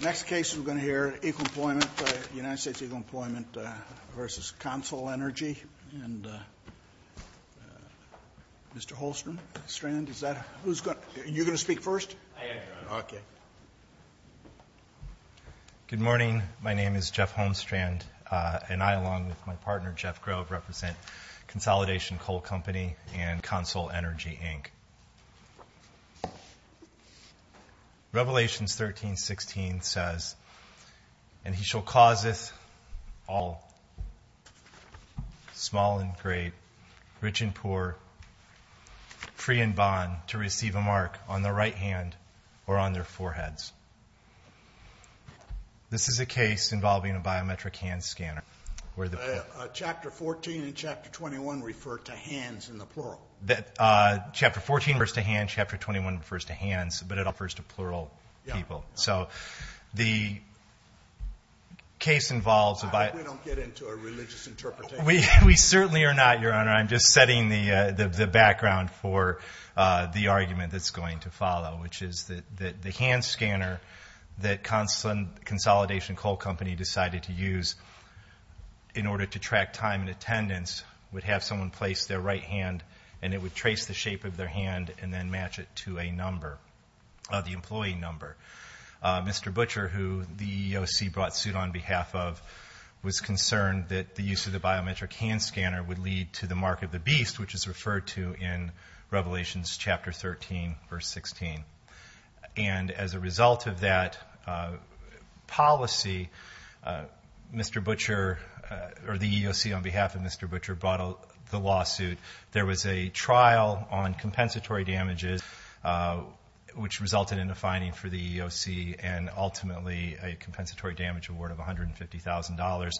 Next case we're going to hear, Equal Employment, United States Equal Employment v. CONSOL Energy, and Mr. Holmstrand, is that, who's going to, you're going to speak first? I am. Okay. Good morning. My name is Jeff Holmstrand, and I, along with my partner Jeff Grove, represent Consolidation Coal Company and CONSOL Energy, Inc. Revelations 13.16 says, And he shall causeth all, small and great, rich and poor, free and bond, to receive a mark on the right hand or on their foreheads. This is a case involving a biometric hand scanner. Chapter 14 and Chapter 21 refer to hands in the plural. Chapter 14 refers to hands, Chapter 21 refers to hands, but it refers to plural people. So, the case involves a bio- I hope we don't get into a religious interpretation. We certainly are not, Your Honor. I'm just setting the background for the argument that's going to follow, which is that the hand scanner that Consolidation Coal Company decided to use in order to track time and attendance would have someone place their right hand, and it would trace the shape of their hand, and then match it to a number, the employee number. Mr. Butcher, who the EEOC brought suit on behalf of, was concerned that the use of the biometric hand scanner would lead to the mark of the beast, which is referred to in Revelations Chapter 13, Verse 16. And as a result of that policy, Mr. Butcher, or the EEOC on behalf of Mr. Butcher, brought the lawsuit. There was a trial on compensatory damages, which resulted in a fining for the EEOC, and ultimately a compensatory damage award of $150,000.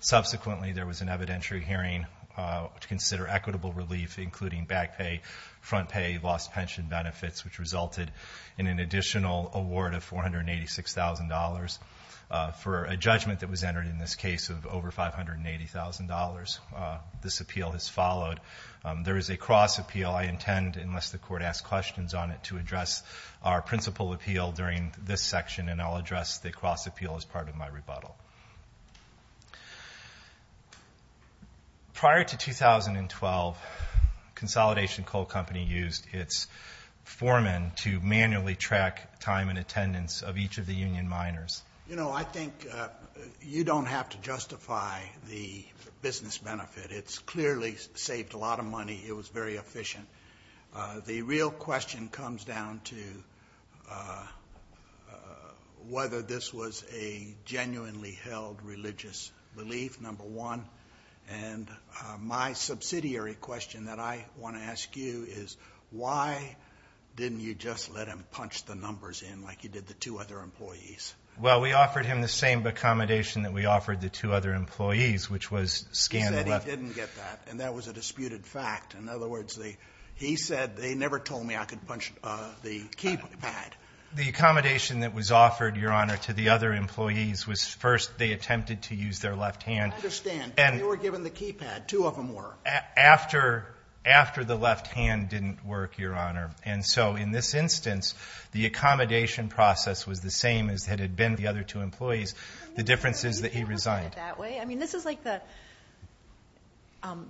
Subsequently, there was an evidentiary hearing to consider equitable relief, including back pay, front pay, lost pension benefits, which resulted in an additional award of $486,000 for a judgment that was entered in this case of over $580,000. This appeal has followed. There is a cross appeal. I intend, unless the Court asks questions on it, to address our principal appeal during this section, and I'll address the cross appeal as part of my rebuttal. Prior to 2012, Consolidation Coal Company used its foreman to manually track time and attendance of each of the union miners. You know, I think you don't have to justify the business benefit. It's clearly saved a lot of money. It was very efficient. The real question comes down to whether this was a genuinely held religious relief, number one, and my subsidiary question that I want to ask you is, why didn't you just let him punch the numbers in like you did the two other employees? Well, we offered him the same accommodation that we offered the two other employees, which was scandal. He said he didn't get that, and that was a disputed fact. In other words, he said they never told me I could punch the keypad. The accommodation that was offered, Your Honor, to the other employees was first they attempted to use their left hand. I understand, but they were given the keypad. Two of them were. After the left hand didn't work, Your Honor, and so in this instance, the accommodation process was the same as it had been for the other two employees. The difference is that he resigned.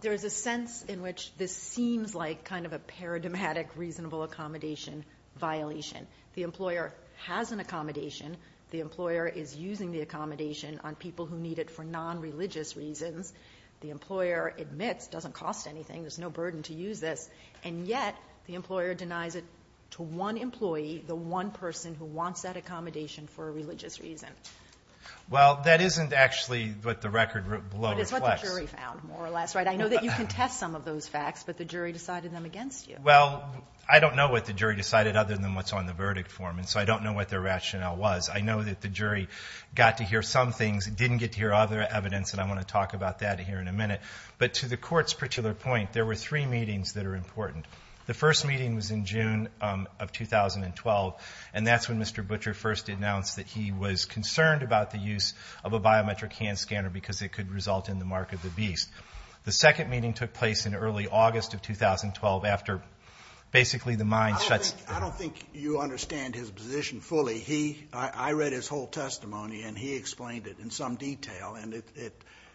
There is a sense in which this seems like kind of a paradigmatic reasonable accommodation violation. The employer has an accommodation. The employer is using the accommodation on people who need it for nonreligious reasons. The employer admits it doesn't cost anything. There's no burden to use this, and yet the employer denies it to one employee, the one person who wants that accommodation for a religious reason. Well, that isn't actually what the record below reflects. But it's what the jury found, more or less, right? I know that you contest some of those facts, but the jury decided them against you. Well, I don't know what the jury decided other than what's on the verdict form, and so I don't know what their rationale was. I know that the jury got to hear some things, didn't get to hear other evidence, and I want to talk about that here in a minute. But to the Court's particular point, there were three meetings that are important. The first meeting was in June of 2012, and that's when Mr. Butcher first announced that he was concerned about the use of a biometric hand scanner because it could result in the mark of the beast. The second meeting took place in early August of 2012 after basically the mine shut down. I don't think you understand his position fully. I read his whole testimony, and he explained it in some detail, and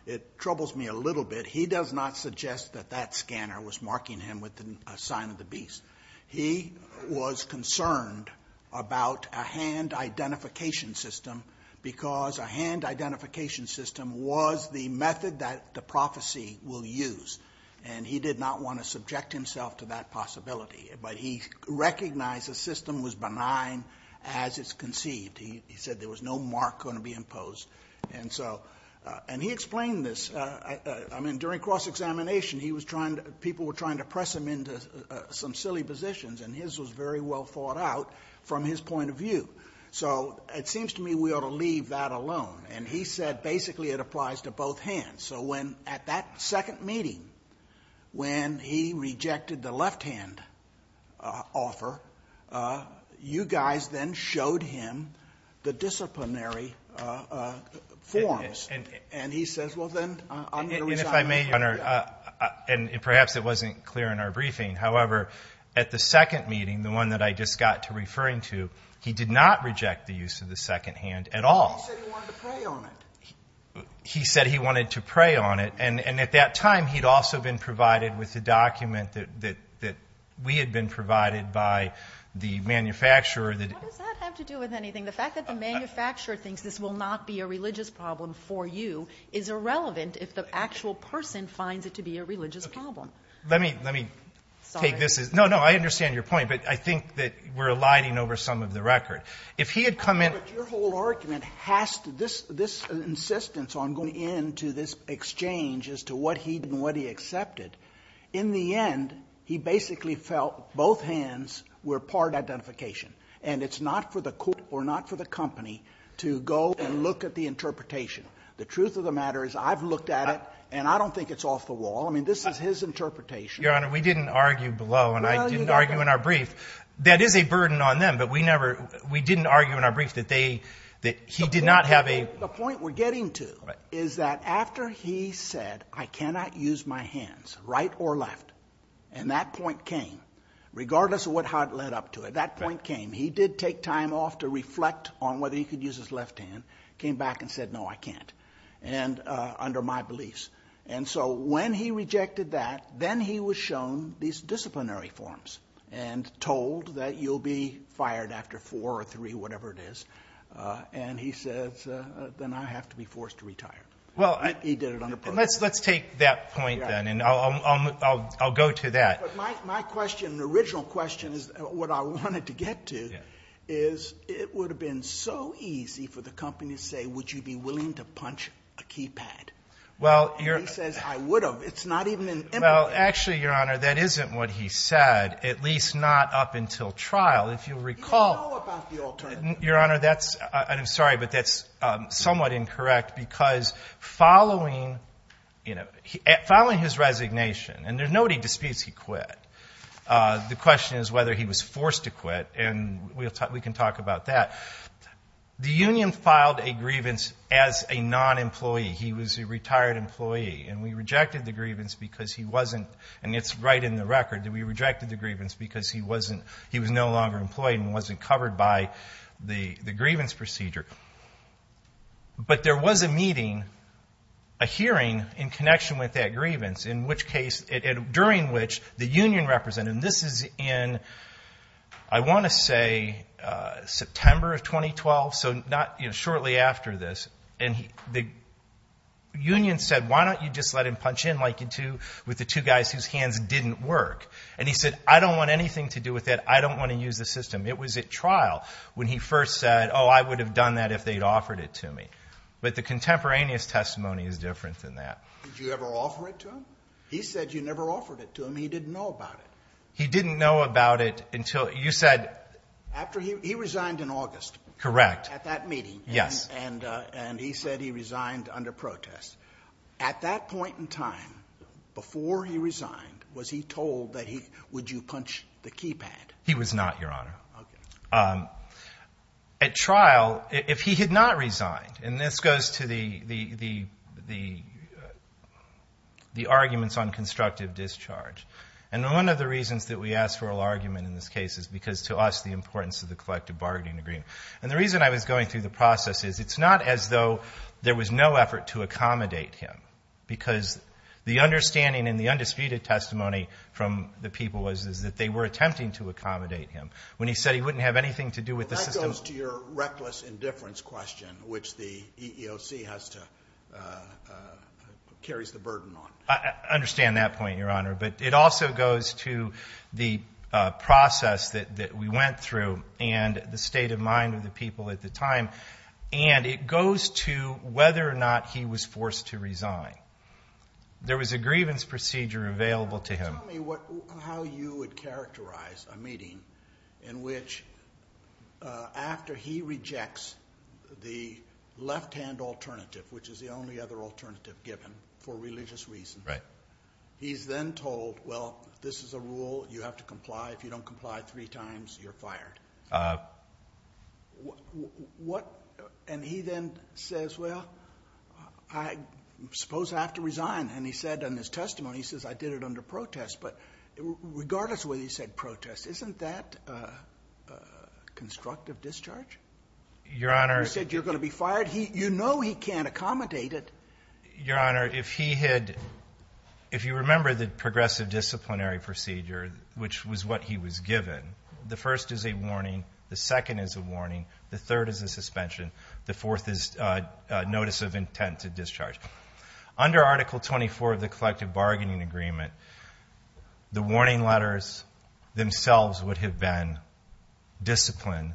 it troubles me a little bit. He does not suggest that that scanner was marking him with a sign of the beast. He was concerned about a hand identification system because a hand identification system was the method that the prophecy will use, and he did not want to subject himself to that possibility. But he recognized the system was benign as it's conceived. He said there was no mark going to be imposed. And he explained this. I mean, during cross-examination, people were trying to press him into some silly positions, and his was very well thought out from his point of view. So it seems to me we ought to leave that alone. And he said basically it applies to both hands. So at that second meeting when he rejected the left-hand offer, you guys then showed him the disciplinary forms. And he says, well, then, I'm going to resign. And if I may, Your Honor, and perhaps it wasn't clear in our briefing, however, at the second meeting, the one that I just got to referring to, he did not reject the use of the second hand at all. He said he wanted to prey on it. He said he wanted to prey on it, And at that time, he'd also been provided with a document that we had been provided by the manufacturer. What does that have to do with anything? The fact that the manufacturer thinks this will not be a religious problem for you is irrelevant if the actual person finds it to be a religious problem. Let me take this. No, no, I understand your point, but I think that we're aligning over some of the record. But your whole argument has to do with this insistence on going into this exchange as to what he did and what he accepted. In the end, he basically felt both hands were part identification. And it's not for the court or not for the company to go and look at the interpretation. The truth of the matter is I've looked at it, and I don't think it's off the wall. I mean, this is his interpretation. Your Honor, we didn't argue below, and I didn't argue in our brief. That is a burden on them, but we didn't argue in our brief that he did not have a— The point we're getting to is that after he said, I cannot use my hands, right or left, and that point came, regardless of how it led up to it, that point came. He did take time off to reflect on whether he could use his left hand, came back and said, No, I can't, under my beliefs. And so when he rejected that, then he was shown these disciplinary forms and told that you'll be fired after four or three, whatever it is. And he says, Then I have to be forced to retire. He did it under protocol. Let's take that point, then, and I'll go to that. My question, the original question, is what I wanted to get to, is it would have been so easy for the company to say, Would you be willing to punch a keypad? And he says, I would have. It's not even an implication. Well, actually, Your Honor, that isn't what he said, at least not up until trial. If you'll recall— He didn't know about the alternative. Your Honor, I'm sorry, but that's somewhat incorrect because following his resignation, and nobody disputes he quit, the question is whether he was forced to quit, and we can talk about that. The union filed a grievance as a non-employee. He was a retired employee, and we rejected the grievance because he wasn't— and it's right in the record that we rejected the grievance because he was no longer employed and wasn't covered by the grievance procedure. But there was a meeting, a hearing in connection with that grievance, during which the union representative—and this is in, I want to say, September of 2012, so shortly after this, and the union said, Why don't you just let him punch in like you do with the two guys whose hands didn't work? And he said, I don't want anything to do with that. I don't want to use the system. It was at trial when he first said, Oh, I would have done that if they'd offered it to me. But the contemporaneous testimony is different than that. Did you ever offer it to him? He said you never offered it to him. He didn't know about it. He didn't know about it until—you said— He resigned in August. Correct. At that meeting. Yes. And he said he resigned under protest. At that point in time, before he resigned, was he told that would you punch the keypad? He was not, Your Honor. Okay. At trial, if he had not resigned, and this goes to the arguments on constructive discharge, and one of the reasons that we asked for an argument in this case is because to us the importance of the collective bargaining agreement. And the reason I was going through the process is it's not as though there was no effort to accommodate him because the understanding in the undisputed testimony from the people was that they were attempting to accommodate him. When he said he wouldn't have anything to do with the system— Well, that goes to your reckless indifference question, which the EEOC has to—carries the burden on. I understand that point, Your Honor. But it also goes to the process that we went through and the state of mind of the people at the time, and it goes to whether or not he was forced to resign. There was a grievance procedure available to him. Tell me how you would characterize a meeting in which after he rejects the left-hand alternative, which is the only other alternative given for religious reasons, he's then told, well, this is a rule. You have to comply. If you don't comply three times, you're fired. And he then says, well, I suppose I have to resign. And he said in his testimony, he says, I did it under protest. But regardless of whether he said protest, isn't that constructive discharge? Your Honor— You said you're going to be fired. You know he can't accommodate it. Your Honor, if he had—if you remember the progressive disciplinary procedure, which was what he was given, the first is a warning, the second is a warning, the third is a suspension, the fourth is notice of intent to discharge. Under Article 24 of the collective bargaining agreement, the warning letters themselves would have been discipline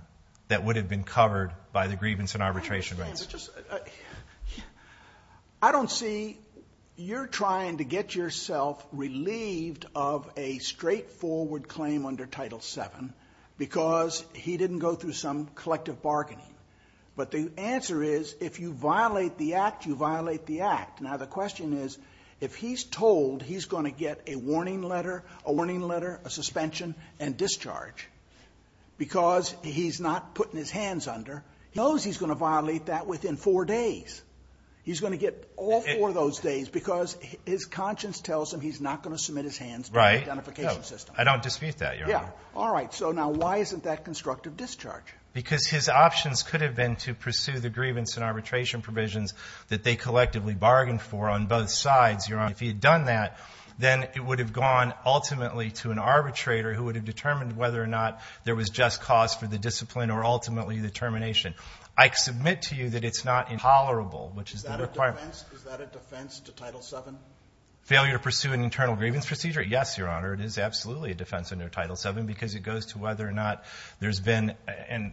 that would have been covered by the grievance and arbitration rights. Your Honor, I don't see you're trying to get yourself relieved of a straightforward claim under Title VII because he didn't go through some collective bargaining. But the answer is, if you violate the act, you violate the act. Now, the question is, if he's told he's going to get a warning letter, a warning letter, a suspension, and discharge because he's not putting his hands under, he knows he's going to violate that within four days. He's going to get all four of those days because his conscience tells him he's not going to submit his hands to the identification system. I don't dispute that, Your Honor. All right. So now why isn't that constructive discharge? Because his options could have been to pursue the grievance and arbitration provisions that they collectively bargained for on both sides, Your Honor. If he had done that, then it would have gone ultimately to an arbitrator who would have determined whether or not there was just cause for the discipline or ultimately the termination. I submit to you that it's not intolerable, which is the requirement. Is that a defense? Is that a defense to Title VII? Failure to pursue an internal grievance procedure? Yes, Your Honor. It is absolutely a defense under Title VII because it goes to whether or not there's been and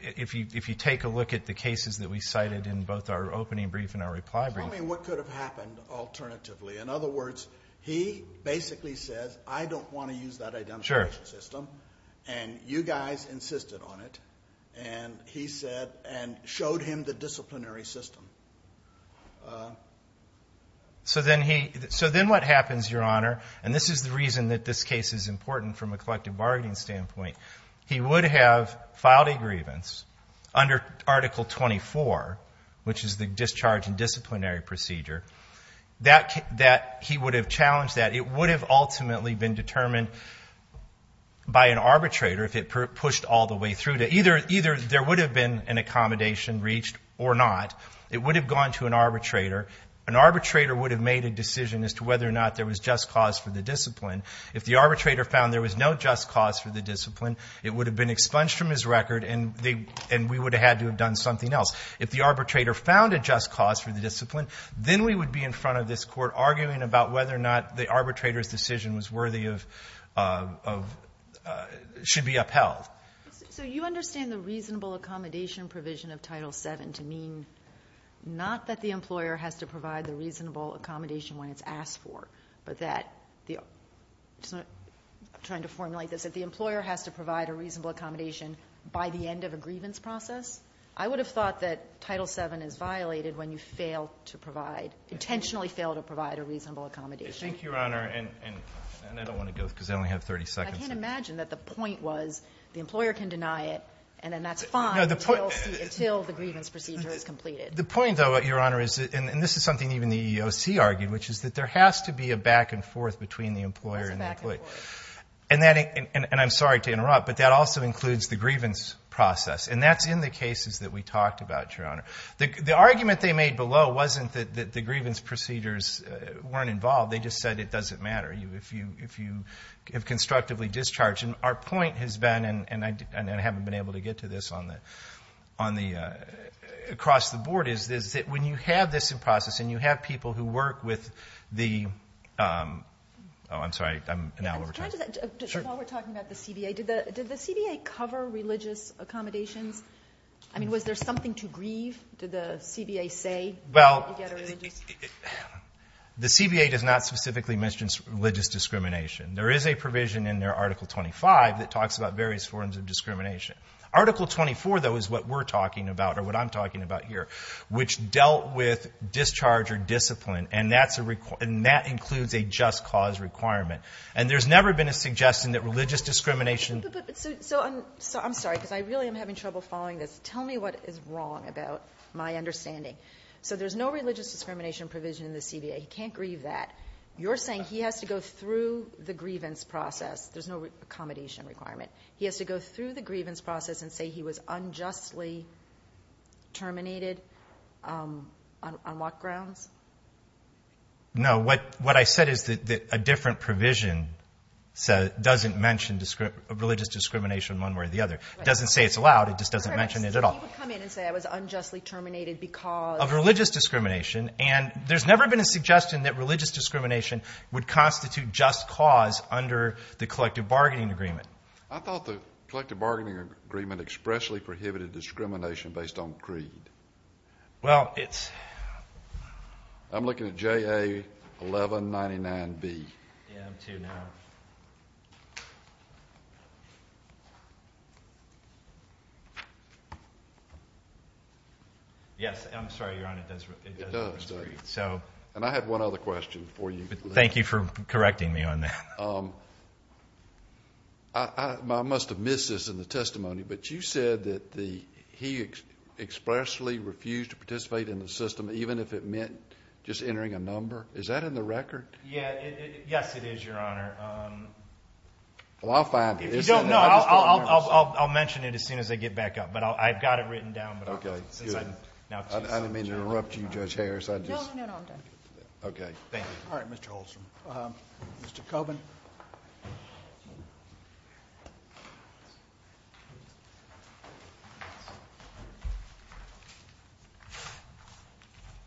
if you take a look at the cases that we cited in both our opening brief and our reply brief. Tell me what could have happened alternatively. Sure. And you guys insisted on it and he said and showed him the disciplinary system. So then what happens, Your Honor, and this is the reason that this case is important from a collective bargaining standpoint, he would have filed a grievance under Article 24, which is the discharge and disciplinary procedure, that he would have challenged that. It would have ultimately been determined by an arbitrator if it pushed all the way through. Either there would have been an accommodation reached or not. It would have gone to an arbitrator. An arbitrator would have made a decision as to whether or not there was just cause for the discipline. If the arbitrator found there was no just cause for the discipline, it would have been expunged from his record and we would have had to have done something else. If the arbitrator found a just cause for the discipline, then we would be in front of this Court arguing about whether or not the arbitrator's decision was worthy of, should be upheld. So you understand the reasonable accommodation provision of Title VII to mean not that the employer has to provide the reasonable accommodation when it's asked for, but that, I'm trying to formulate this, that the employer has to provide a reasonable accommodation by the end of a grievance process? I would have thought that Title VII is violated when you fail to provide, intentionally fail to provide a reasonable accommodation. Thank you, Your Honor. And I don't want to go because I only have 30 seconds. I can't imagine that the point was the employer can deny it and then that's fine until the grievance procedure is completed. The point, though, Your Honor, is, and this is something even the EEOC argued, which is that there has to be a back and forth between the employer and the employee. There is a back and forth. And that, and I'm sorry to interrupt, but that also includes the grievance process. And that's in the cases that we talked about, Your Honor. The argument they made below wasn't that the grievance procedures weren't involved. They just said it doesn't matter if you have constructively discharged. And our point has been, and I haven't been able to get to this across the board, is that when you have this in process and you have people who work with the, oh, I'm sorry, I'm now over time. While we're talking about the CBA, did the CBA cover religious accommodations? I mean, was there something to grieve, did the CBA say? Well, the CBA does not specifically mention religious discrimination. There is a provision in their Article 25 that talks about various forms of discrimination. Article 24, though, is what we're talking about or what I'm talking about here, which dealt with discharge or discipline, and that includes a just cause requirement. And there's never been a suggestion that religious discrimination. So I'm sorry, because I really am having trouble following this. Tell me what is wrong about my understanding. So there's no religious discrimination provision in the CBA. He can't grieve that. You're saying he has to go through the grievance process. There's no accommodation requirement. He has to go through the grievance process and say he was unjustly terminated on what grounds? No. What I said is that a different provision doesn't mention religious discrimination one way or the other. It doesn't say it's allowed. It just doesn't mention it at all. He would come in and say I was unjustly terminated because... Of religious discrimination. And there's never been a suggestion that religious discrimination would constitute just cause under the collective bargaining agreement. I thought the collective bargaining agreement expressly prohibited discrimination based on greed. Well, it's... I'm looking at JA 1199B. Yeah, I'm too now. Yes, I'm sorry, Your Honor, it does. It does. And I have one other question for you. Thank you for correcting me on that. I must have missed this in the testimony, but you said that he expressly refused to participate in the system even if it meant just entering a number. Is that in the record? Yes, it is, Your Honor. Well, I'll find it. If you don't know, I'll mention it as soon as I get back up, but I've got it written down. Okay, good. I didn't mean to interrupt you, Judge Harris. No, no, no, I'm done. Okay, thank you. All right, Mr. Holstrom. Mr. Coburn.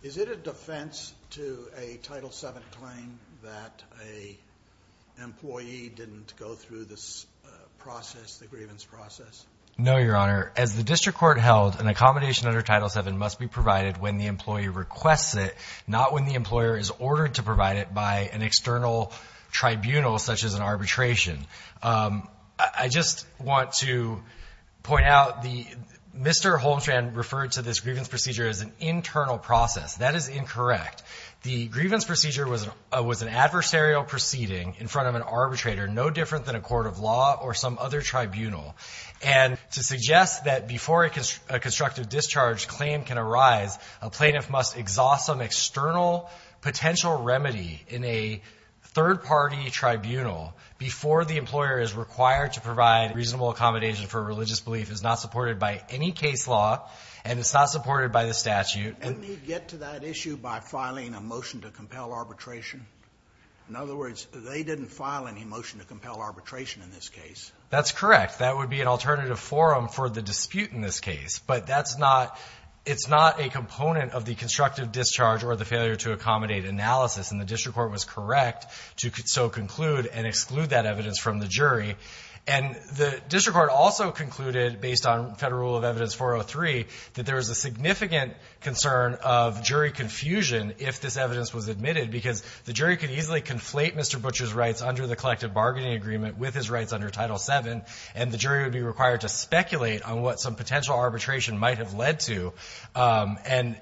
Is it a defense to a Title VII claim that an employee didn't go through this process, the grievance process? No, Your Honor. As the district court held, an accommodation under Title VII must be provided when the employee requests it, not when the employer is ordered to provide it by an external tribunal such as an arbitration. I just want to point out, Mr. Holmstrand referred to this grievance procedure as an internal process. That is incorrect. The grievance procedure was an adversarial proceeding in front of an arbitrator, no different than a court of law or some other tribunal. And to suggest that before a constructive discharge claim can arise, a plaintiff must exhaust some external potential remedy in a third-party tribunal before the employer is required to provide reasonable accommodation for a religious belief is not supported by any case law, and it's not supported by the statute. And they get to that issue by filing a motion to compel arbitration? In other words, they didn't file any motion to compel arbitration in this case. That's correct. That would be an alternative forum for the dispute in this case, but it's not a component of the constructive discharge or the failure to accommodate analysis, and the district court was correct to so conclude and exclude that evidence from the jury. And the district court also concluded, based on Federal Rule of Evidence 403, that there is a significant concern of jury confusion if this evidence was admitted because the jury could easily conflate Mr. Butcher's rights under the collective bargaining agreement with his rights under Title VII and the jury would be required to speculate on what some potential arbitration might have led to. And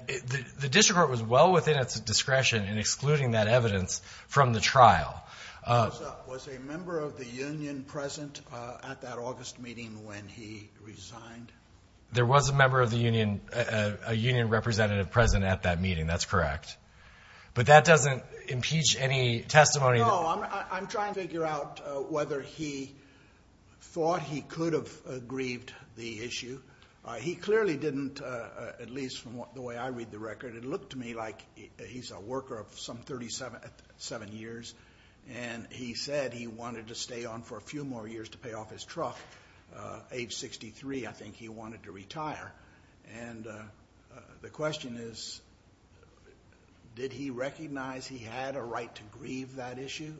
the district court was well within its discretion in excluding that evidence from the trial. Was a member of the union present at that August meeting when he resigned? There was a member of the union, a union representative present at that meeting. That's correct. But that doesn't impeach any testimony. No, I'm trying to figure out whether he thought he could have aggrieved the issue. He clearly didn't, at least from the way I read the record. It looked to me like he's a worker of some 37 years, and he said he wanted to stay on for a few more years to pay off his truck. Age 63, I think he wanted to retire. And the question is, did he recognize he had a right to grieve that issue?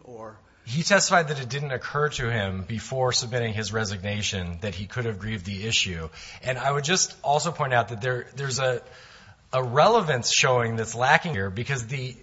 He testified that it didn't occur to him before submitting his resignation that he could have grieved the issue. And I would just also point out that there's a relevance showing that's lacking here because the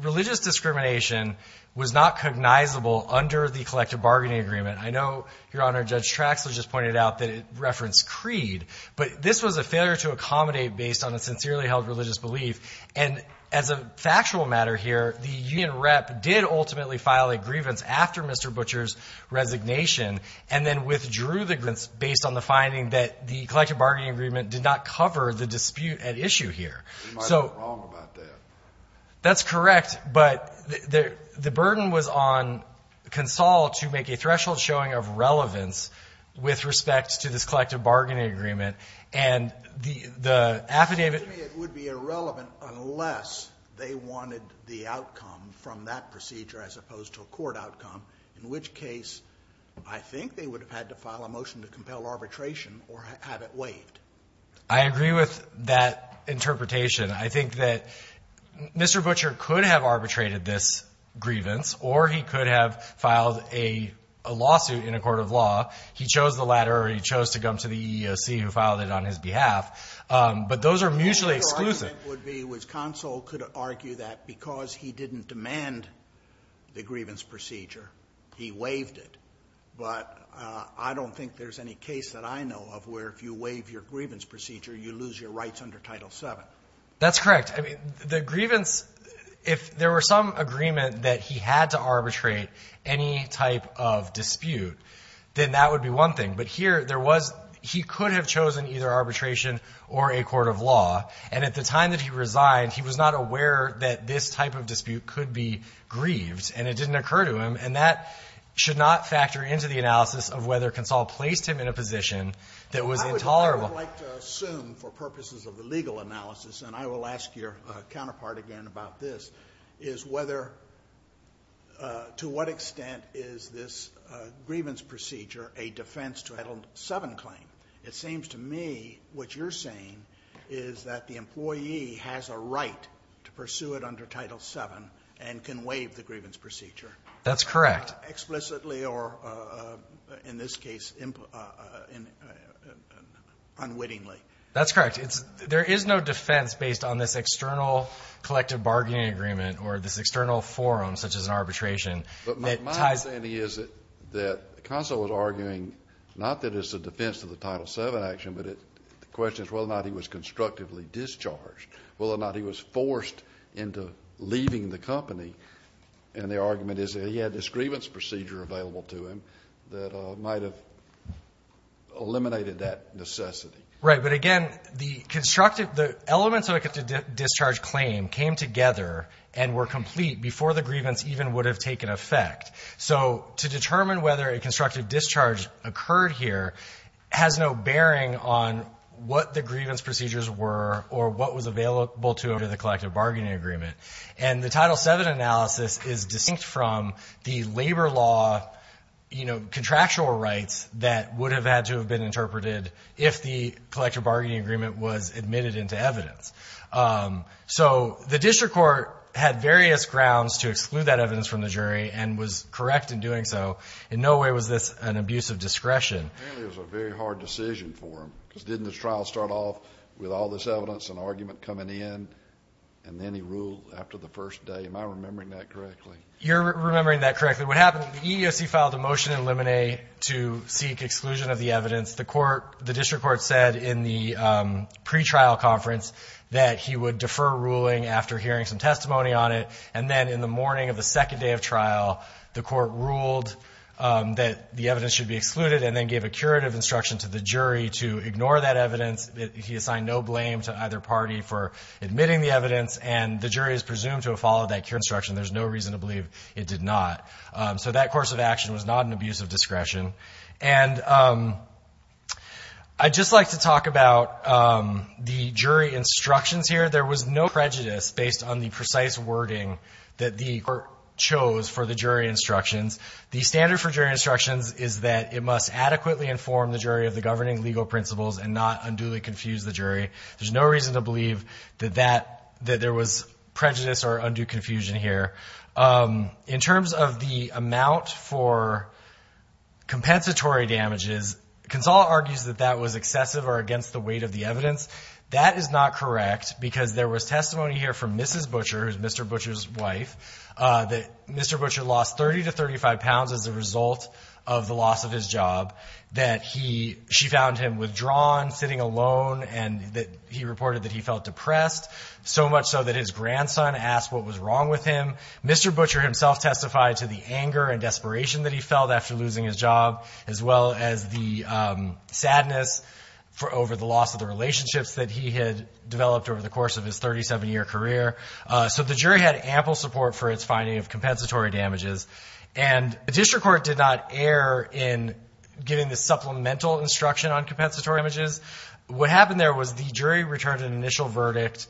religious discrimination was not cognizable under the collective bargaining agreement. I know, Your Honor, Judge Traxler just pointed out that it referenced creed, but this was a failure to accommodate based on a sincerely held religious belief. And as a factual matter here, the union rep did ultimately file a grievance after Mr. Butcher's resignation and then withdrew the grievance based on the finding that the collective bargaining agreement did not cover the dispute at issue here. We might be wrong about that. That's correct. But the burden was on Console to make a threshold showing of relevance with respect to this collective bargaining agreement. And the affidavit ---- It would be irrelevant unless they wanted the outcome from that procedure as opposed to a court outcome, in which case I think they would have had to file a motion to compel arbitration or have it waived. I agree with that interpretation. I think that Mr. Butcher could have arbitrated this grievance or he could have filed a lawsuit in a court of law. He chose the latter or he chose to come to the EEOC who filed it on his behalf. But those are mutually exclusive. My argument would be that Console could argue that because he didn't demand the grievance procedure, he waived it. But I don't think there's any case that I know of where if you waive your grievance procedure, you lose your rights under Title VII. That's correct. I mean, the grievance ---- if there were some agreement that he had to arbitrate any type of dispute, then that would be one thing. But here there was ---- he could have chosen either arbitration or a court of law. And at the time that he resigned, he was not aware that this type of dispute could be grieved and it didn't occur to him, and that should not factor into the analysis of whether Console placed him in a position that was intolerable. I would like to assume for purposes of the legal analysis, and I will ask your counterpart again about this, is whether to what extent is this grievance procedure a defense to Title VII claim? It seems to me what you're saying is that the employee has a right to pursue it under Title VII and can waive the grievance procedure. That's correct. Explicitly or, in this case, unwittingly. That's correct. It's ---- there is no defense based on this external collective bargaining agreement or this external forum such as an arbitration that ties ---- But my understanding is that Console was arguing not that it's a defense to the Title VII action, but the question is whether or not he was constructively discharged, whether or not he was forced into leaving the company. And their argument is that he had this grievance procedure available to him that might have eliminated that necessity. Right. But again, the constructive ---- the elements of a constructive discharge claim came together and were complete before the grievance even would have taken effect. So to determine whether a constructive discharge occurred here has no bearing on what the grievance procedures were or what was available to the collective bargaining agreement. And the Title VII analysis is distinct from the labor law, you know, contractual rights that would have had to have been interpreted if the collective bargaining agreement was admitted into evidence. So the district court had various grounds to exclude that evidence from the jury and was correct in doing so. In no way was this an abuse of discretion. Apparently it was a very hard decision for him because didn't his trial start off with all this evidence and argument coming in, and then he ruled after the first day? Am I remembering that correctly? You're remembering that correctly. What happened is the EEOC filed a motion in Lemonnet to seek exclusion of the evidence. The court ---- the district court said in the pretrial conference that he would defer ruling after hearing some testimony on it. And then in the morning of the second day of trial, the court ruled that the district court should give a curative instruction to the jury to ignore that evidence. He assigned no blame to either party for admitting the evidence, and the jury is presumed to have followed that curative instruction. There's no reason to believe it did not. So that course of action was not an abuse of discretion. And I'd just like to talk about the jury instructions here. There was no prejudice based on the precise wording that the court chose for the jury instructions. The standard for jury instructions is that it must adequately inform the jury of the governing legal principles and not unduly confuse the jury. There's no reason to believe that that ---- that there was prejudice or undue confusion here. In terms of the amount for compensatory damages, Consall argues that that was excessive or against the weight of the evidence. That is not correct because there was testimony here from Mrs. Butcher, who is Mr. Butcher lost 30 to 35 pounds as a result of the loss of his job, that he ---- she found him withdrawn, sitting alone, and that he reported that he felt depressed, so much so that his grandson asked what was wrong with him. Mr. Butcher himself testified to the anger and desperation that he felt after losing his job, as well as the sadness over the loss of the relationships that he had developed over the course of his 37-year career. So the jury had ample support for its finding of compensatory damages. And the district court did not err in giving the supplemental instruction on compensatory damages. What happened there was the jury returned an initial verdict,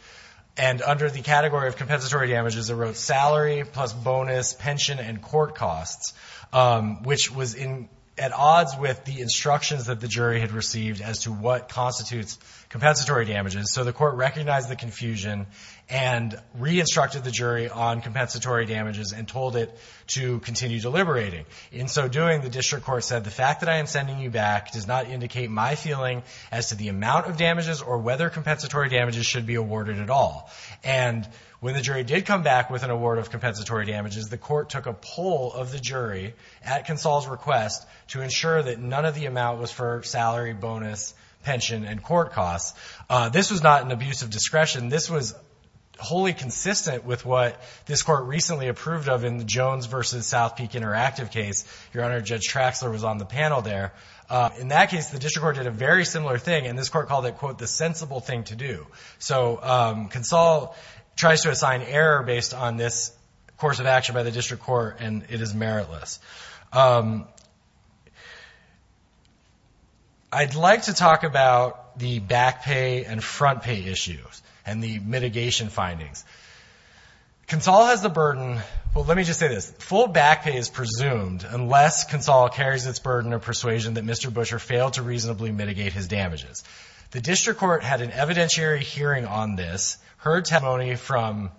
and under the category of compensatory damages, it wrote salary plus bonus, pension, and court costs, which was at odds with the instructions that the jury had received as to what constitutes compensatory damages. So the court recognized the confusion and re-instructed the jury on compensatory damages and told it to continue deliberating. In so doing, the district court said, the fact that I am sending you back does not indicate my feeling as to the amount of damages or whether compensatory damages should be awarded at all. And when the jury did come back with an award of compensatory damages, the court took a poll of the jury at Consall's request to ensure that none of the amount was for salary, bonus, pension, and court costs. This was not an abuse of discretion. This was wholly consistent with what this court recently approved of in the Jones v. South Peak Interactive case. Your Honor, Judge Traxler was on the panel there. In that case, the district court did a very similar thing, and this court called it, quote, the sensible thing to do. So Consall tries to assign error based on this course of action by the district court, and it is meritless. I'd like to talk about the back pay and front pay issues and the mitigation findings. Consall has the burden, well, let me just say this. Full back pay is presumed unless Consall carries its burden of persuasion that Mr. Buescher failed to reasonably mitigate his damages. The district court had an evidentiary hearing on this, heard testimony from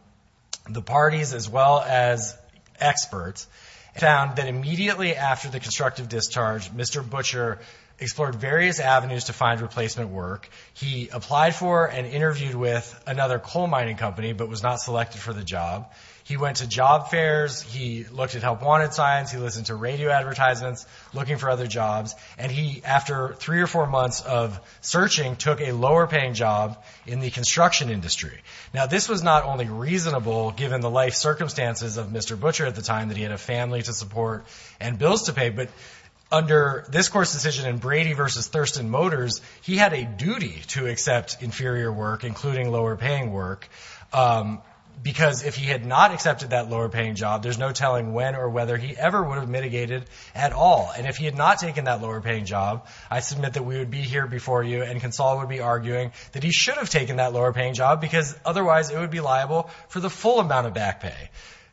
the parties as well as experts, found that immediately after the constructive discharge, Mr. Buescher explored various avenues to find replacement work. He applied for and interviewed with another coal mining company but was not selected for the job. He went to job fairs. He looked at Help Wanted signs. He listened to radio advertisements looking for other jobs, and he, after three or four months of searching, took a lower paying job in the construction industry. Now, this was not only reasonable given the life circumstances of Mr. Buescher at the time, that he had a family to support and bills to pay, but under this court's decision in Brady v. Thurston Motors, he had a duty to accept inferior work, including lower paying work, because if he had not accepted that lower paying job, there's no telling when or whether he ever would have mitigated at all. And if he had not taken that lower paying job, I submit that we would be here before you and Consall would be arguing that he should have taken that lower paying job because otherwise it would be liable for the full amount of back pay,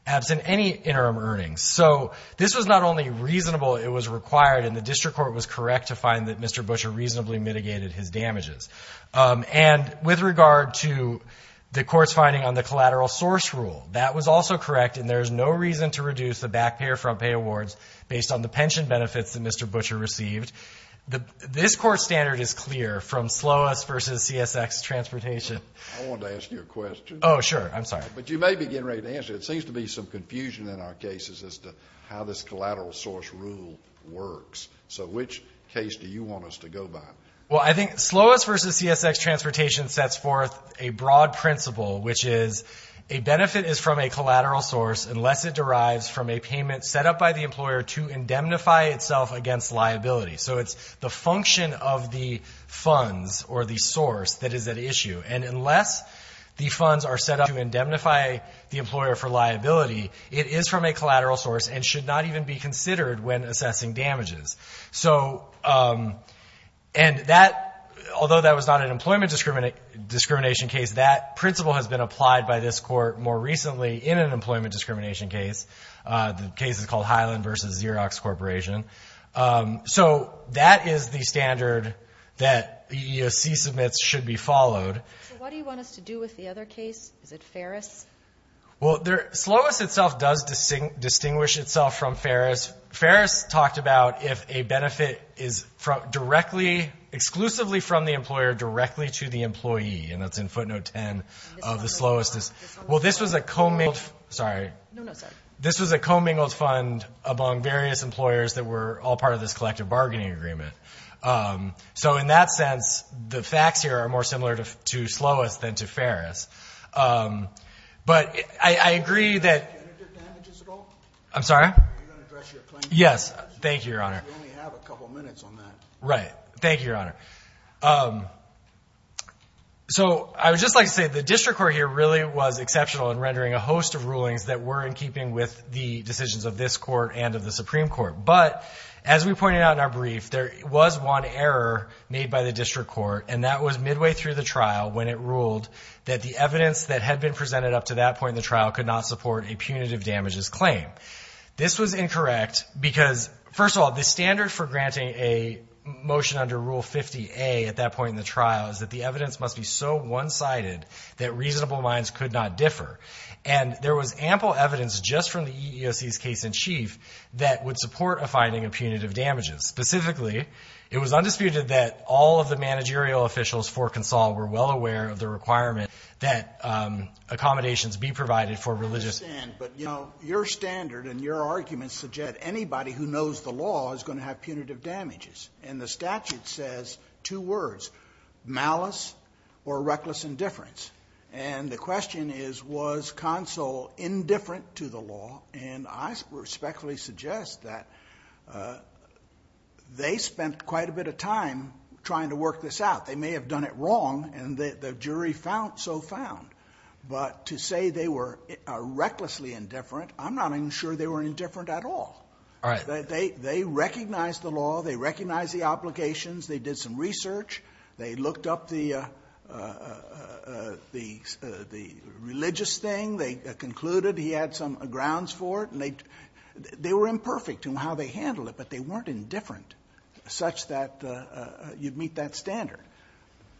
absent any interim earnings. So this was not only reasonable, it was required, and the district court was correct to find that Mr. Buescher reasonably mitigated his damages. And with regard to the court's finding on the collateral source rule, that was also correct, and there's no reason to reduce the back pay or front pay awards based on the pension benefits that Mr. Buescher received. This court's standard is clear from Slowus v. CSX Transportation. I wanted to ask you a question. Oh, sure. I'm sorry. But you may be getting ready to answer it. It seems to be some confusion in our cases as to how this collateral source rule works. So which case do you want us to go by? Well, I think Slowus v. CSX Transportation sets forth a broad principle, which is a benefit is from a collateral source unless it derives from a payment set up by the employer to the employer. So it's the function of the funds or the source that is at issue. And unless the funds are set up to indemnify the employer for liability, it is from a collateral source and should not even be considered when assessing damages. So, and that, although that was not an employment discrimination case, that principle has been applied by this court more recently in an employment discrimination case. The case is called Highland v. Xerox Corporation. So that is the standard that EEOC submits should be followed. So what do you want us to do with the other case? Is it Ferris? Well, Slowus itself does distinguish itself from Ferris. Ferris talked about if a benefit is directly, exclusively from the employer directly to the employee. And that's in footnote 10 of the Slowus. Well, this was a commingled, sorry. No, no, sorry. This was a commingled fund among various employers that were all part of this collective bargaining agreement. So in that sense, the facts here are more similar to Slowus than to Ferris. But I agree that. Did you enter damages at all? I'm sorry? Are you going to address your claim? Yes. Thank you, Your Honor. We only have a couple minutes on that. Right. Thank you, Your Honor. So I would just like to say the district court here really was exceptional in rendering a host of rulings that were in keeping with the decisions of this court and of the Supreme Court. But as we pointed out in our brief, there was one error made by the district court, and that was midway through the trial when it ruled that the evidence that had been presented up to that point in the trial could not support a punitive damages claim. This was incorrect because, first of all, the standard for granting a motion under Rule 50A at that point in the trial is that the evidence must be so clear. And there was ample evidence just from the EEOC's case-in-chief that would support a finding of punitive damages. Specifically, it was undisputed that all of the managerial officials for Consol were well aware of the requirement that accommodations be provided for religious... I understand. But, you know, your standard and your arguments suggest anybody who knows the law is going to have punitive damages. And the statute says two words, malice or reckless indifference. And the question is, was Consol indifferent to the law? And I respectfully suggest that they spent quite a bit of time trying to work this out. They may have done it wrong, and the jury so found. But to say they were recklessly indifferent, I'm not even sure they were indifferent at all. They recognized the law. They recognized the obligations. They did some research. They looked up the religious thing. They concluded he had some grounds for it. And they were imperfect in how they handled it, but they weren't indifferent such that you'd meet that standard.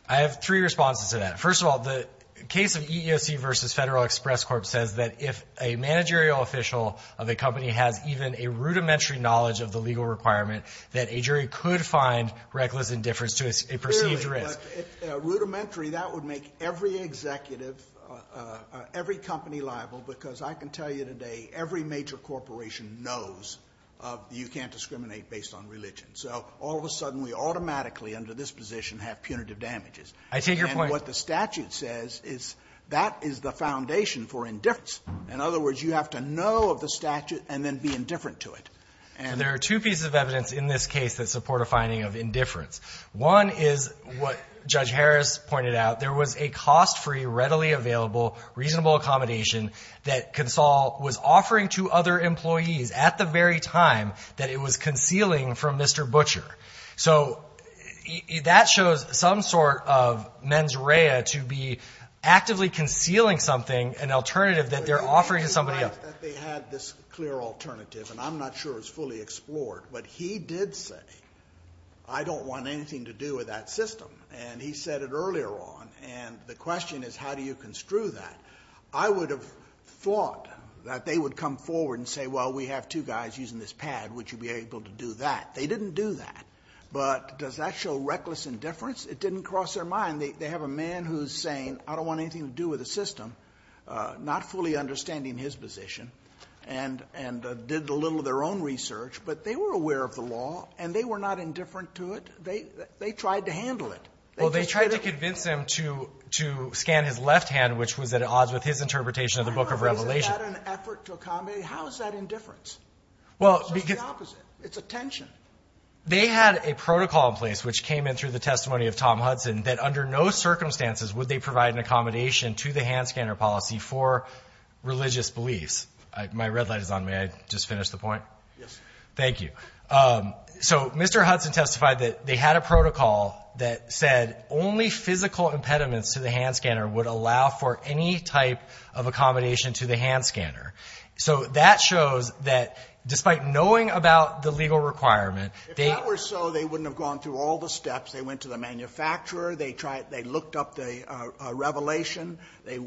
I have three responses to that. First of all, the case of EEOC v. Federal Express Corp. says that if a managerial official of a company has even a rudimentary knowledge of the legal requirement, that a jury could find reckless indifference to a perceived risk. Clearly, but rudimentary, that would make every executive, every company liable because I can tell you today, every major corporation knows you can't discriminate based on religion. So all of a sudden, we automatically under this position have punitive damages. I take your point. And what the statute says is that is the foundation for indifference. In other words, you have to know of the statute and then be indifferent to it. And there are two pieces of evidence in this case that support a finding of indifference. One is what Judge Harris pointed out. There was a cost-free, readily available, reasonable accommodation that Consol was offering to other employees at the very time that it was concealing from Mr. Butcher. So that shows some sort of mens rea to be actively concealing something, an alternative that they're offering to somebody else. I don't believe that they had this clear alternative, and I'm not sure it's fully explored. But he did say, I don't want anything to do with that system. And he said it earlier on. And the question is, how do you construe that? I would have thought that they would come forward and say, well, we have two guys using this pad. Would you be able to do that? They didn't do that. But does that show reckless indifference? It didn't cross their mind. They have a man who's saying, I don't want anything to do with the system, not fully understanding his position, and did a little of their own research. But they were aware of the law, and they were not indifferent to it. They tried to handle it. Well, they tried to convince him to scan his left hand, which was at odds with his interpretation of the Book of Revelation. How is that an effort to accommodate? How is that indifference? Well, because the opposite. It's attention. They had a protocol in place, which came in through the testimony of Tom Hudson, that under no circumstances would they provide an accommodation to the hand scanner policy for religious beliefs. My red light is on. May I just finish the point? Yes. Thank you. So Mr. Hudson testified that they had a protocol that said only physical impediments to the hand scanner would allow for any type of accommodation to the hand scanner. So that shows that despite knowing about the legal requirement, they — If that were so, they wouldn't have gone through all the steps. They went to the manufacturer. They looked up the revelation. They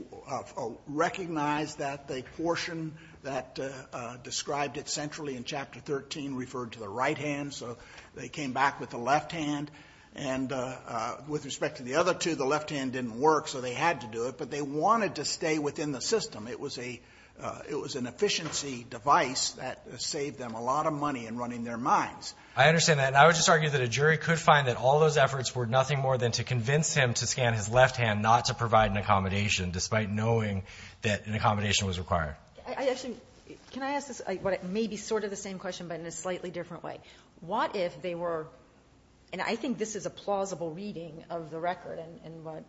recognized that the portion that described it centrally in Chapter 13 referred to the right hand. So they came back with the left hand. And with respect to the other two, the left hand didn't work, so they had to do it. But they wanted to stay within the system. It was an efficiency device that saved them a lot of money in running their minds. I understand that. And I would just argue that a jury could find that all those efforts were nothing more than to convince him to scan his left hand, not to provide an accommodation, despite knowing that an accommodation was required. Actually, can I ask this? It may be sort of the same question, but in a slightly different way. What if they were — and I think this is a plausible reading of the record and what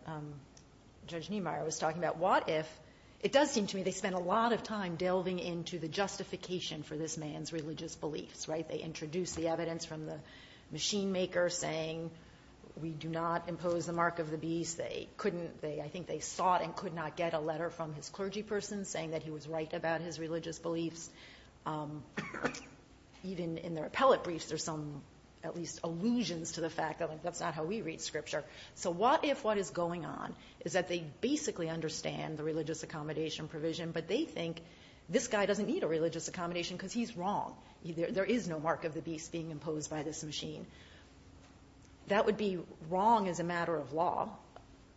Judge Niemeyer was talking about. What if — it does seem to me they spent a lot of time delving into the justification for this man's religious beliefs, right? They introduced the evidence from the machine maker saying, we do not impose the mark of the beast. They couldn't — I think they sought and could not get a letter from his clergy person saying that he was right about his religious beliefs. Even in their appellate briefs, there's some, at least, allusions to the fact that that's not how we read scripture. So what if what is going on is that they basically understand the religious accommodation provision, but they think this guy doesn't need a religious accommodation because he's wrong. There is no mark of the beast being imposed by this machine. That would be wrong as a matter of law.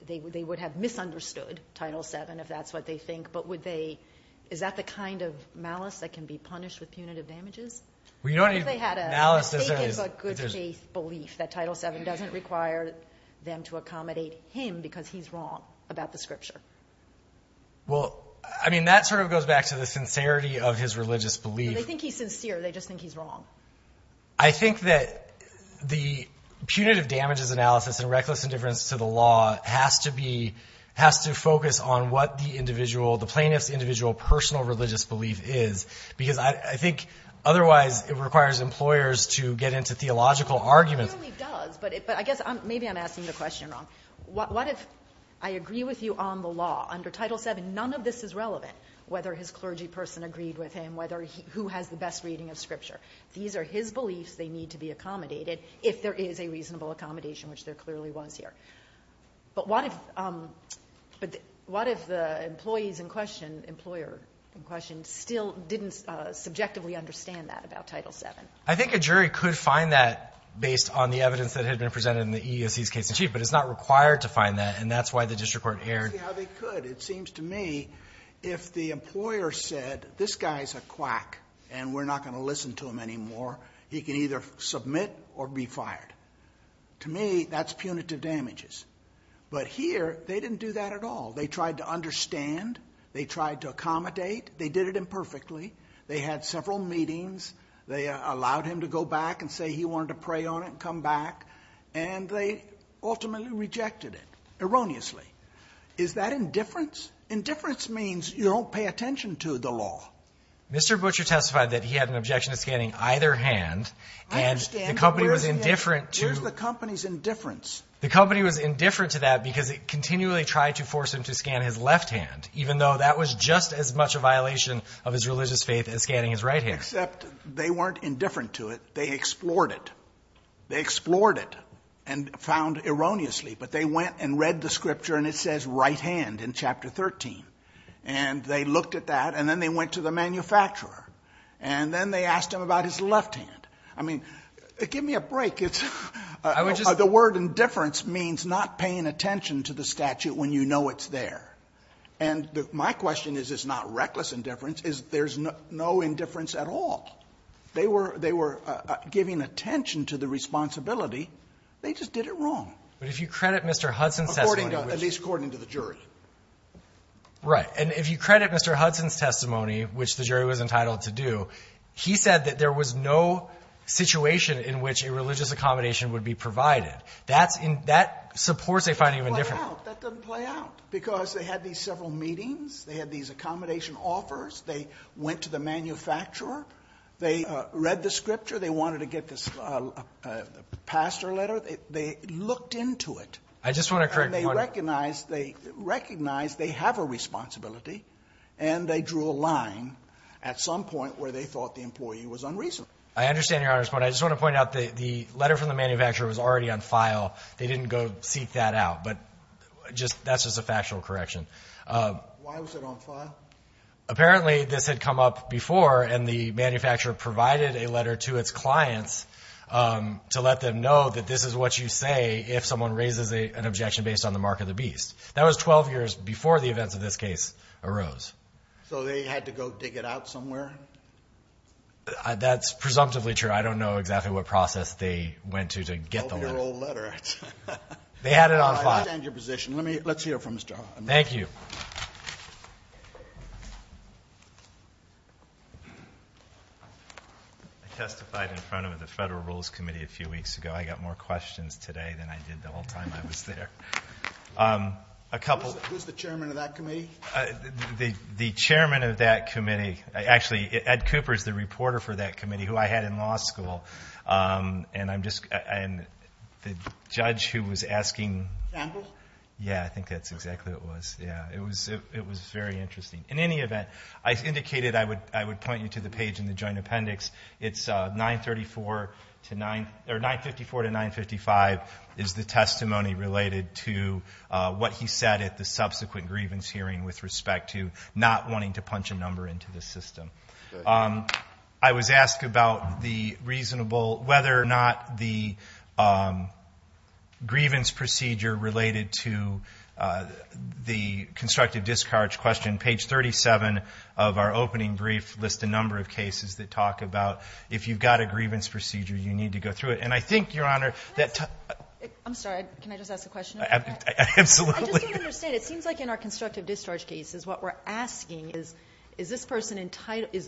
They would have misunderstood Title VII, if that's what they think. But would they — is that the kind of malice that can be punished with punitive damages? If they had a mistaken but good faith belief that Title VII doesn't require them to accommodate him because he's wrong about the scripture. Well, I mean, that sort of goes back to the sincerity of his religious belief. So they think he's sincere. They just think he's wrong. I think that the punitive damages analysis and reckless indifference to the law has to be — has to focus on what the individual — the plaintiff's individual personal religious belief is, because I think otherwise it requires employers to get into theological arguments. It really does. But I guess maybe I'm asking the question wrong. What if I agree with you on the law under Title VII, none of this is relevant, whether his clergy person agreed with him, whether — who has the best reading of scripture? These are his beliefs. They need to be accommodated if there is a reasonable accommodation, which there clearly was here. But what if — but what if the employees in question, employer in question, still didn't subjectively understand that about Title VII? I think a jury could find that based on the evidence that had been presented in the EEOC's case in chief. But it's not required to find that, and that's why the district court erred. That's exactly how they could. But it seems to me if the employer said, this guy's a quack and we're not going to listen to him anymore, he can either submit or be fired. To me, that's punitive damages. But here, they didn't do that at all. They tried to understand. They tried to accommodate. They did it imperfectly. They had several meetings. They allowed him to go back and say he wanted to pray on it and come back. And they ultimately rejected it, erroneously. Is that indifference? Indifference means you don't pay attention to the law. Mr. Butcher testified that he had an objection to scanning either hand. I understand, but where's the company's indifference? The company was indifferent to that because it continually tried to force him to scan his left hand, even though that was just as much a violation of his religious faith as scanning his right hand. Except they weren't indifferent to it. They explored it. They explored it and found erroneously. But they went and read the scripture and it says right hand in Chapter 13. And they looked at that and then they went to the manufacturer. And then they asked him about his left hand. I mean, give me a break. The word indifference means not paying attention to the statute when you know it's there. And my question is it's not reckless indifference. There's no indifference at all. They were giving attention to the responsibility. They just did it wrong. But if you credit Mr. Hudson's testimony. At least according to the jury. Right. And if you credit Mr. Hudson's testimony, which the jury was entitled to do, he said that there was no situation in which a religious accommodation would be provided. That supports a finding of indifference. That doesn't play out. Because they had these several meetings. They had these accommodation offers. They went to the manufacturer. They read the scripture. They wanted to get this pastor letter. They looked into it. And they recognized they have a responsibility. And they drew a line at some point where they thought the employee was unreasonable. I understand your Honor's point. I just want to point out the letter from the manufacturer was already on file. They didn't go seek that out. But that's just a factual correction. Why was it on file? Apparently this had come up before. And the manufacturer provided a letter to its clients to let them know that this is what you say if someone raises an objection based on the mark of the beast. That was 12 years before the events of this case arose. So they had to go dig it out somewhere? That's presumptively true. I don't know exactly what process they went to to get the letter. A 12-year-old letter. They had it on file. I understand your position. Let's hear from Mr. Hudson. Thank you. I testified in front of the Federal Rules Committee a few weeks ago. I got more questions today than I did the whole time I was there. Who's the chairman of that committee? The chairman of that committee. Actually, Ed Cooper is the reporter for that committee who I had in law school. And the judge who was asking. Campbell? Yeah, I think that's exactly who it was. It was very interesting. In any event, I indicated I would point you to the page in the Joint Appendix. It's 954 to 955 is the testimony related to what he said at the subsequent grievance hearing with respect to not wanting to punch a number into the system. I was asked about the reasonable, whether or not the grievance procedure related to the constructive discharge question. It seems like in our constructive discharge cases, what we're asking is, is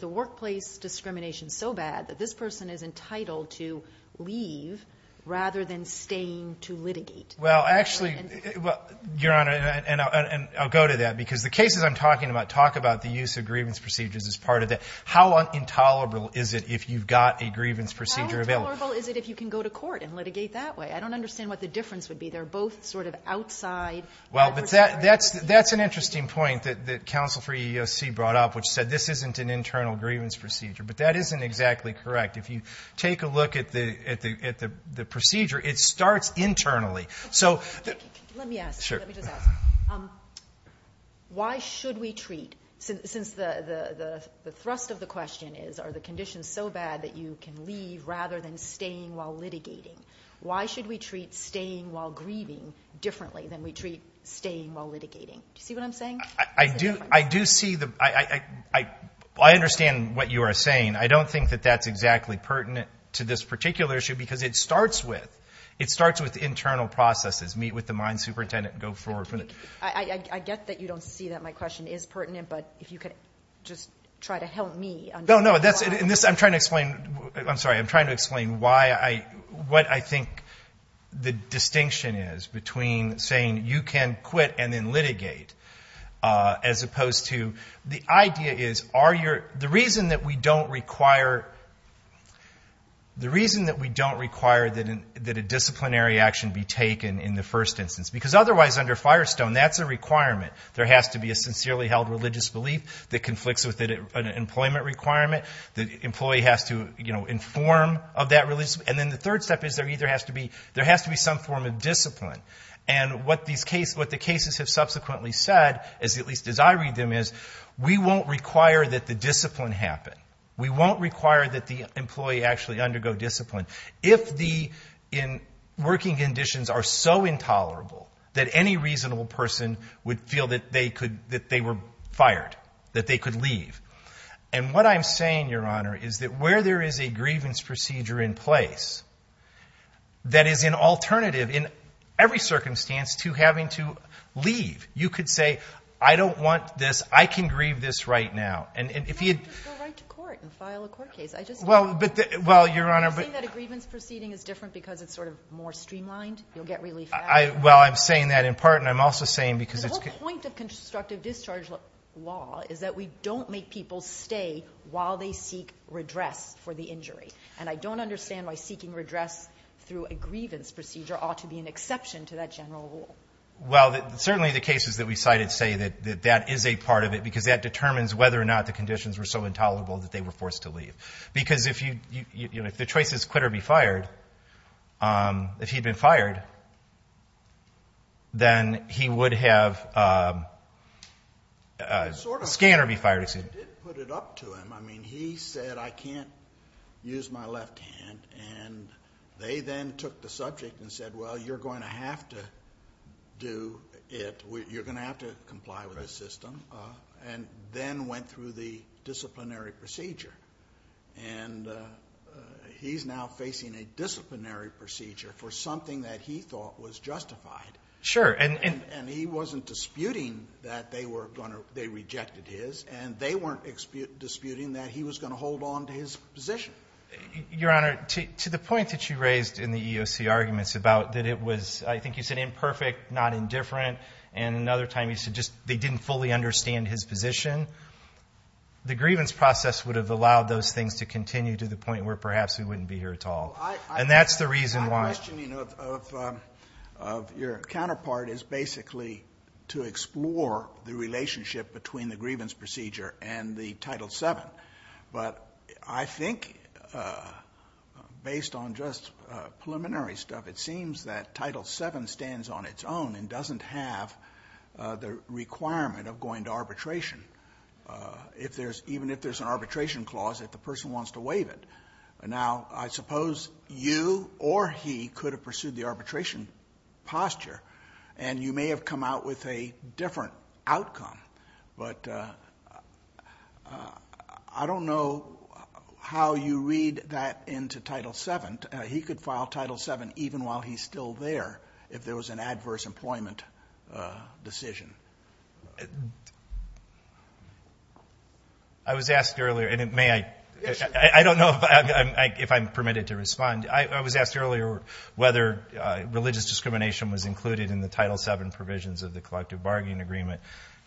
the workplace discrimination so bad that this person is entitled to leave rather than staying to litigate? Well, actually, Your Honor, and I'll go to that, because the cases I'm talking about talk about the use of grievance procedures as part of that. How intolerable is it if you've got a grievance procedure available? How intolerable is it if you can go to court and litigate that way? I don't understand what the difference would be. They're both sort of outside the procedure. Well, but that's an interesting point that counsel for EEOC brought up, which said this isn't an internal grievance procedure. But that isn't exactly correct. If you take a look at the procedure, it starts internally. Let me ask you. Let me just ask you. Why should we treat, since the thrust of the question is, are the conditions so bad that you can leave rather than staying while litigating, why should we treat staying while grieving differently than we treat staying while litigating? Do you see what I'm saying? I do see the – I understand what you are saying. I don't think that that's exactly pertinent to this particular issue because it starts with internal processes. Meet with the mine superintendent and go forward. I get that you don't see that my question is pertinent, but if you could just try to help me. No, no. In this I'm trying to explain – I'm sorry. I'm trying to explain why I – what I think the distinction is between saying you can quit and then litigate as opposed to – the idea is are your – the reason that we don't require – the reason that we don't require that a disciplinary action be taken in the first instance because otherwise under Firestone that's a requirement. There has to be a sincerely held religious belief that conflicts with an employment requirement. The employee has to inform of that religious belief. And then the third step is there either has to be – there has to be some form of discipline. And what these cases – what the cases have subsequently said, at least as I read them, is we won't require that the discipline happen. We won't require that the employee actually undergo discipline. If the working conditions are so intolerable that any reasonable person would feel that they could – that they were fired, that they could leave. And what I'm saying, Your Honor, is that where there is a grievance procedure in place that is an alternative in every circumstance to having to leave, you could say I don't want this. I can grieve this right now. And if you – You can't just go right to court and file a court case. I just – Well, Your Honor – Are you saying that a grievance proceeding is different because it's sort of more streamlined? You'll get relief faster? Well, I'm saying that in part and I'm also saying because it's – The point of constructive discharge law is that we don't make people stay while they seek redress for the injury. And I don't understand why seeking redress through a grievance procedure ought to be an exception to that general rule. Well, certainly the cases that we cited say that that is a part of it because that determines whether or not the conditions were so intolerable that they were forced to leave. Because if the choice is quit or be fired, if he'd been fired, then he would have – Sort of. Scanned or be fired. I didn't put it up to him. I mean, he said I can't use my left hand. And they then took the subject and said, well, you're going to have to do it. You're going to have to comply with the system. And then went through the disciplinary procedure. And he's now facing a disciplinary procedure for something that he thought was justified. Sure. And he wasn't disputing that they were going to – they rejected his. And they weren't disputing that he was going to hold on to his position. Your Honor, to the point that you raised in the EEOC arguments about that it was, I think you said imperfect, not indifferent. And another time you said just they didn't fully understand his position. The grievance process would have allowed those things to continue to the point where perhaps he wouldn't be here at all. And that's the reason why. My questioning of your counterpart is basically to explore the relationship between the grievance procedure and the Title VII. But I think based on just preliminary stuff, it seems that Title VII stands on its own and doesn't have the requirement of going to arbitration. Even if there's an arbitration clause, if the person wants to waive it. Now, I suppose you or he could have pursued the arbitration posture. And you may have come out with a different outcome. But I don't know how you read that into Title VII. He could file Title VII even while he's still there if there was an adverse employment decision. I was asked earlier, and may I? I don't know if I'm permitted to respond. I was asked earlier whether religious discrimination was included in the Title VII provisions of the collective bargaining agreement.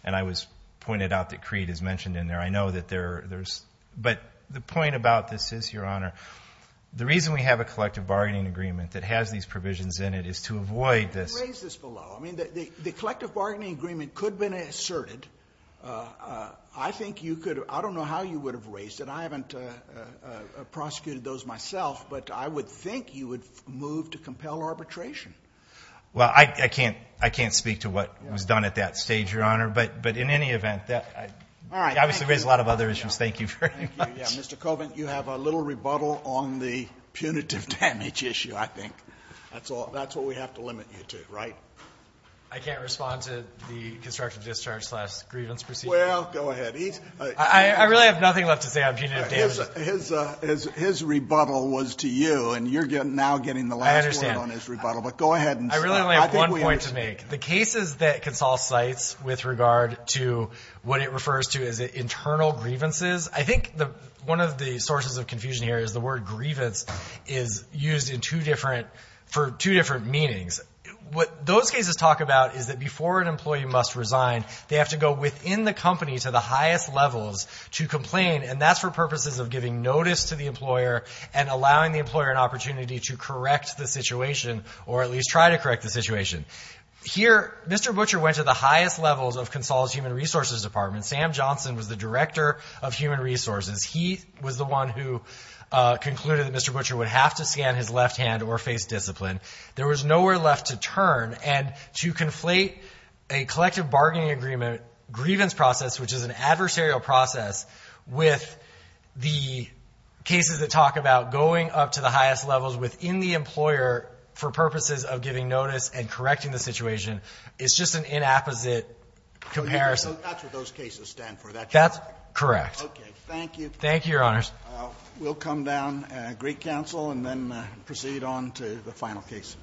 And I was pointed out that creed is mentioned in there. I know that there's – but the point about this is, Your Honor, the reason we have a collective bargaining agreement that has these provisions in it is to avoid this. Raise this below. I mean, the collective bargaining agreement could have been asserted. I think you could have – I don't know how you would have raised it. I haven't prosecuted those myself. But I would think you would move to compel arbitration. Well, I can't speak to what was done at that stage, Your Honor. But in any event, obviously there's a lot of other issues. Thank you very much. Mr. Colvin, you have a little rebuttal on the punitive damage issue, I think. That's what we have to limit you to, right? I can't respond to the constructive discharge slash grievance procedure. Well, go ahead. I really have nothing left to say on punitive damage. His rebuttal was to you, and you're now getting the last word on his rebuttal. But go ahead. I really only have one point to make. The cases that can solve cites with regard to what it refers to as internal grievances, I think one of the sources of confusion here is the word grievance is used in two different – for two different meanings. What those cases talk about is that before an employee must resign, they have to go within the company to the highest levels to complain, and that's for purposes of giving notice to the employer and allowing the employer an opportunity to correct the situation or at least try to correct the situation. Here, Mr. Butcher went to the highest levels of Console's human resources department. Sam Johnson was the director of human resources. He was the one who concluded that Mr. Butcher would have to stand his left hand or face discipline. There was nowhere left to turn, and to conflate a collective bargaining agreement grievance process, which is an adversarial process, with the cases that talk about going up to the highest levels within the employer for purposes of giving notice and correcting the situation is just an inapposite comparison. So that's what those cases stand for. That's correct. Okay. Thank you. Thank you, Your Honors. We'll come down, Greek Counsel, and then proceed on to the final case.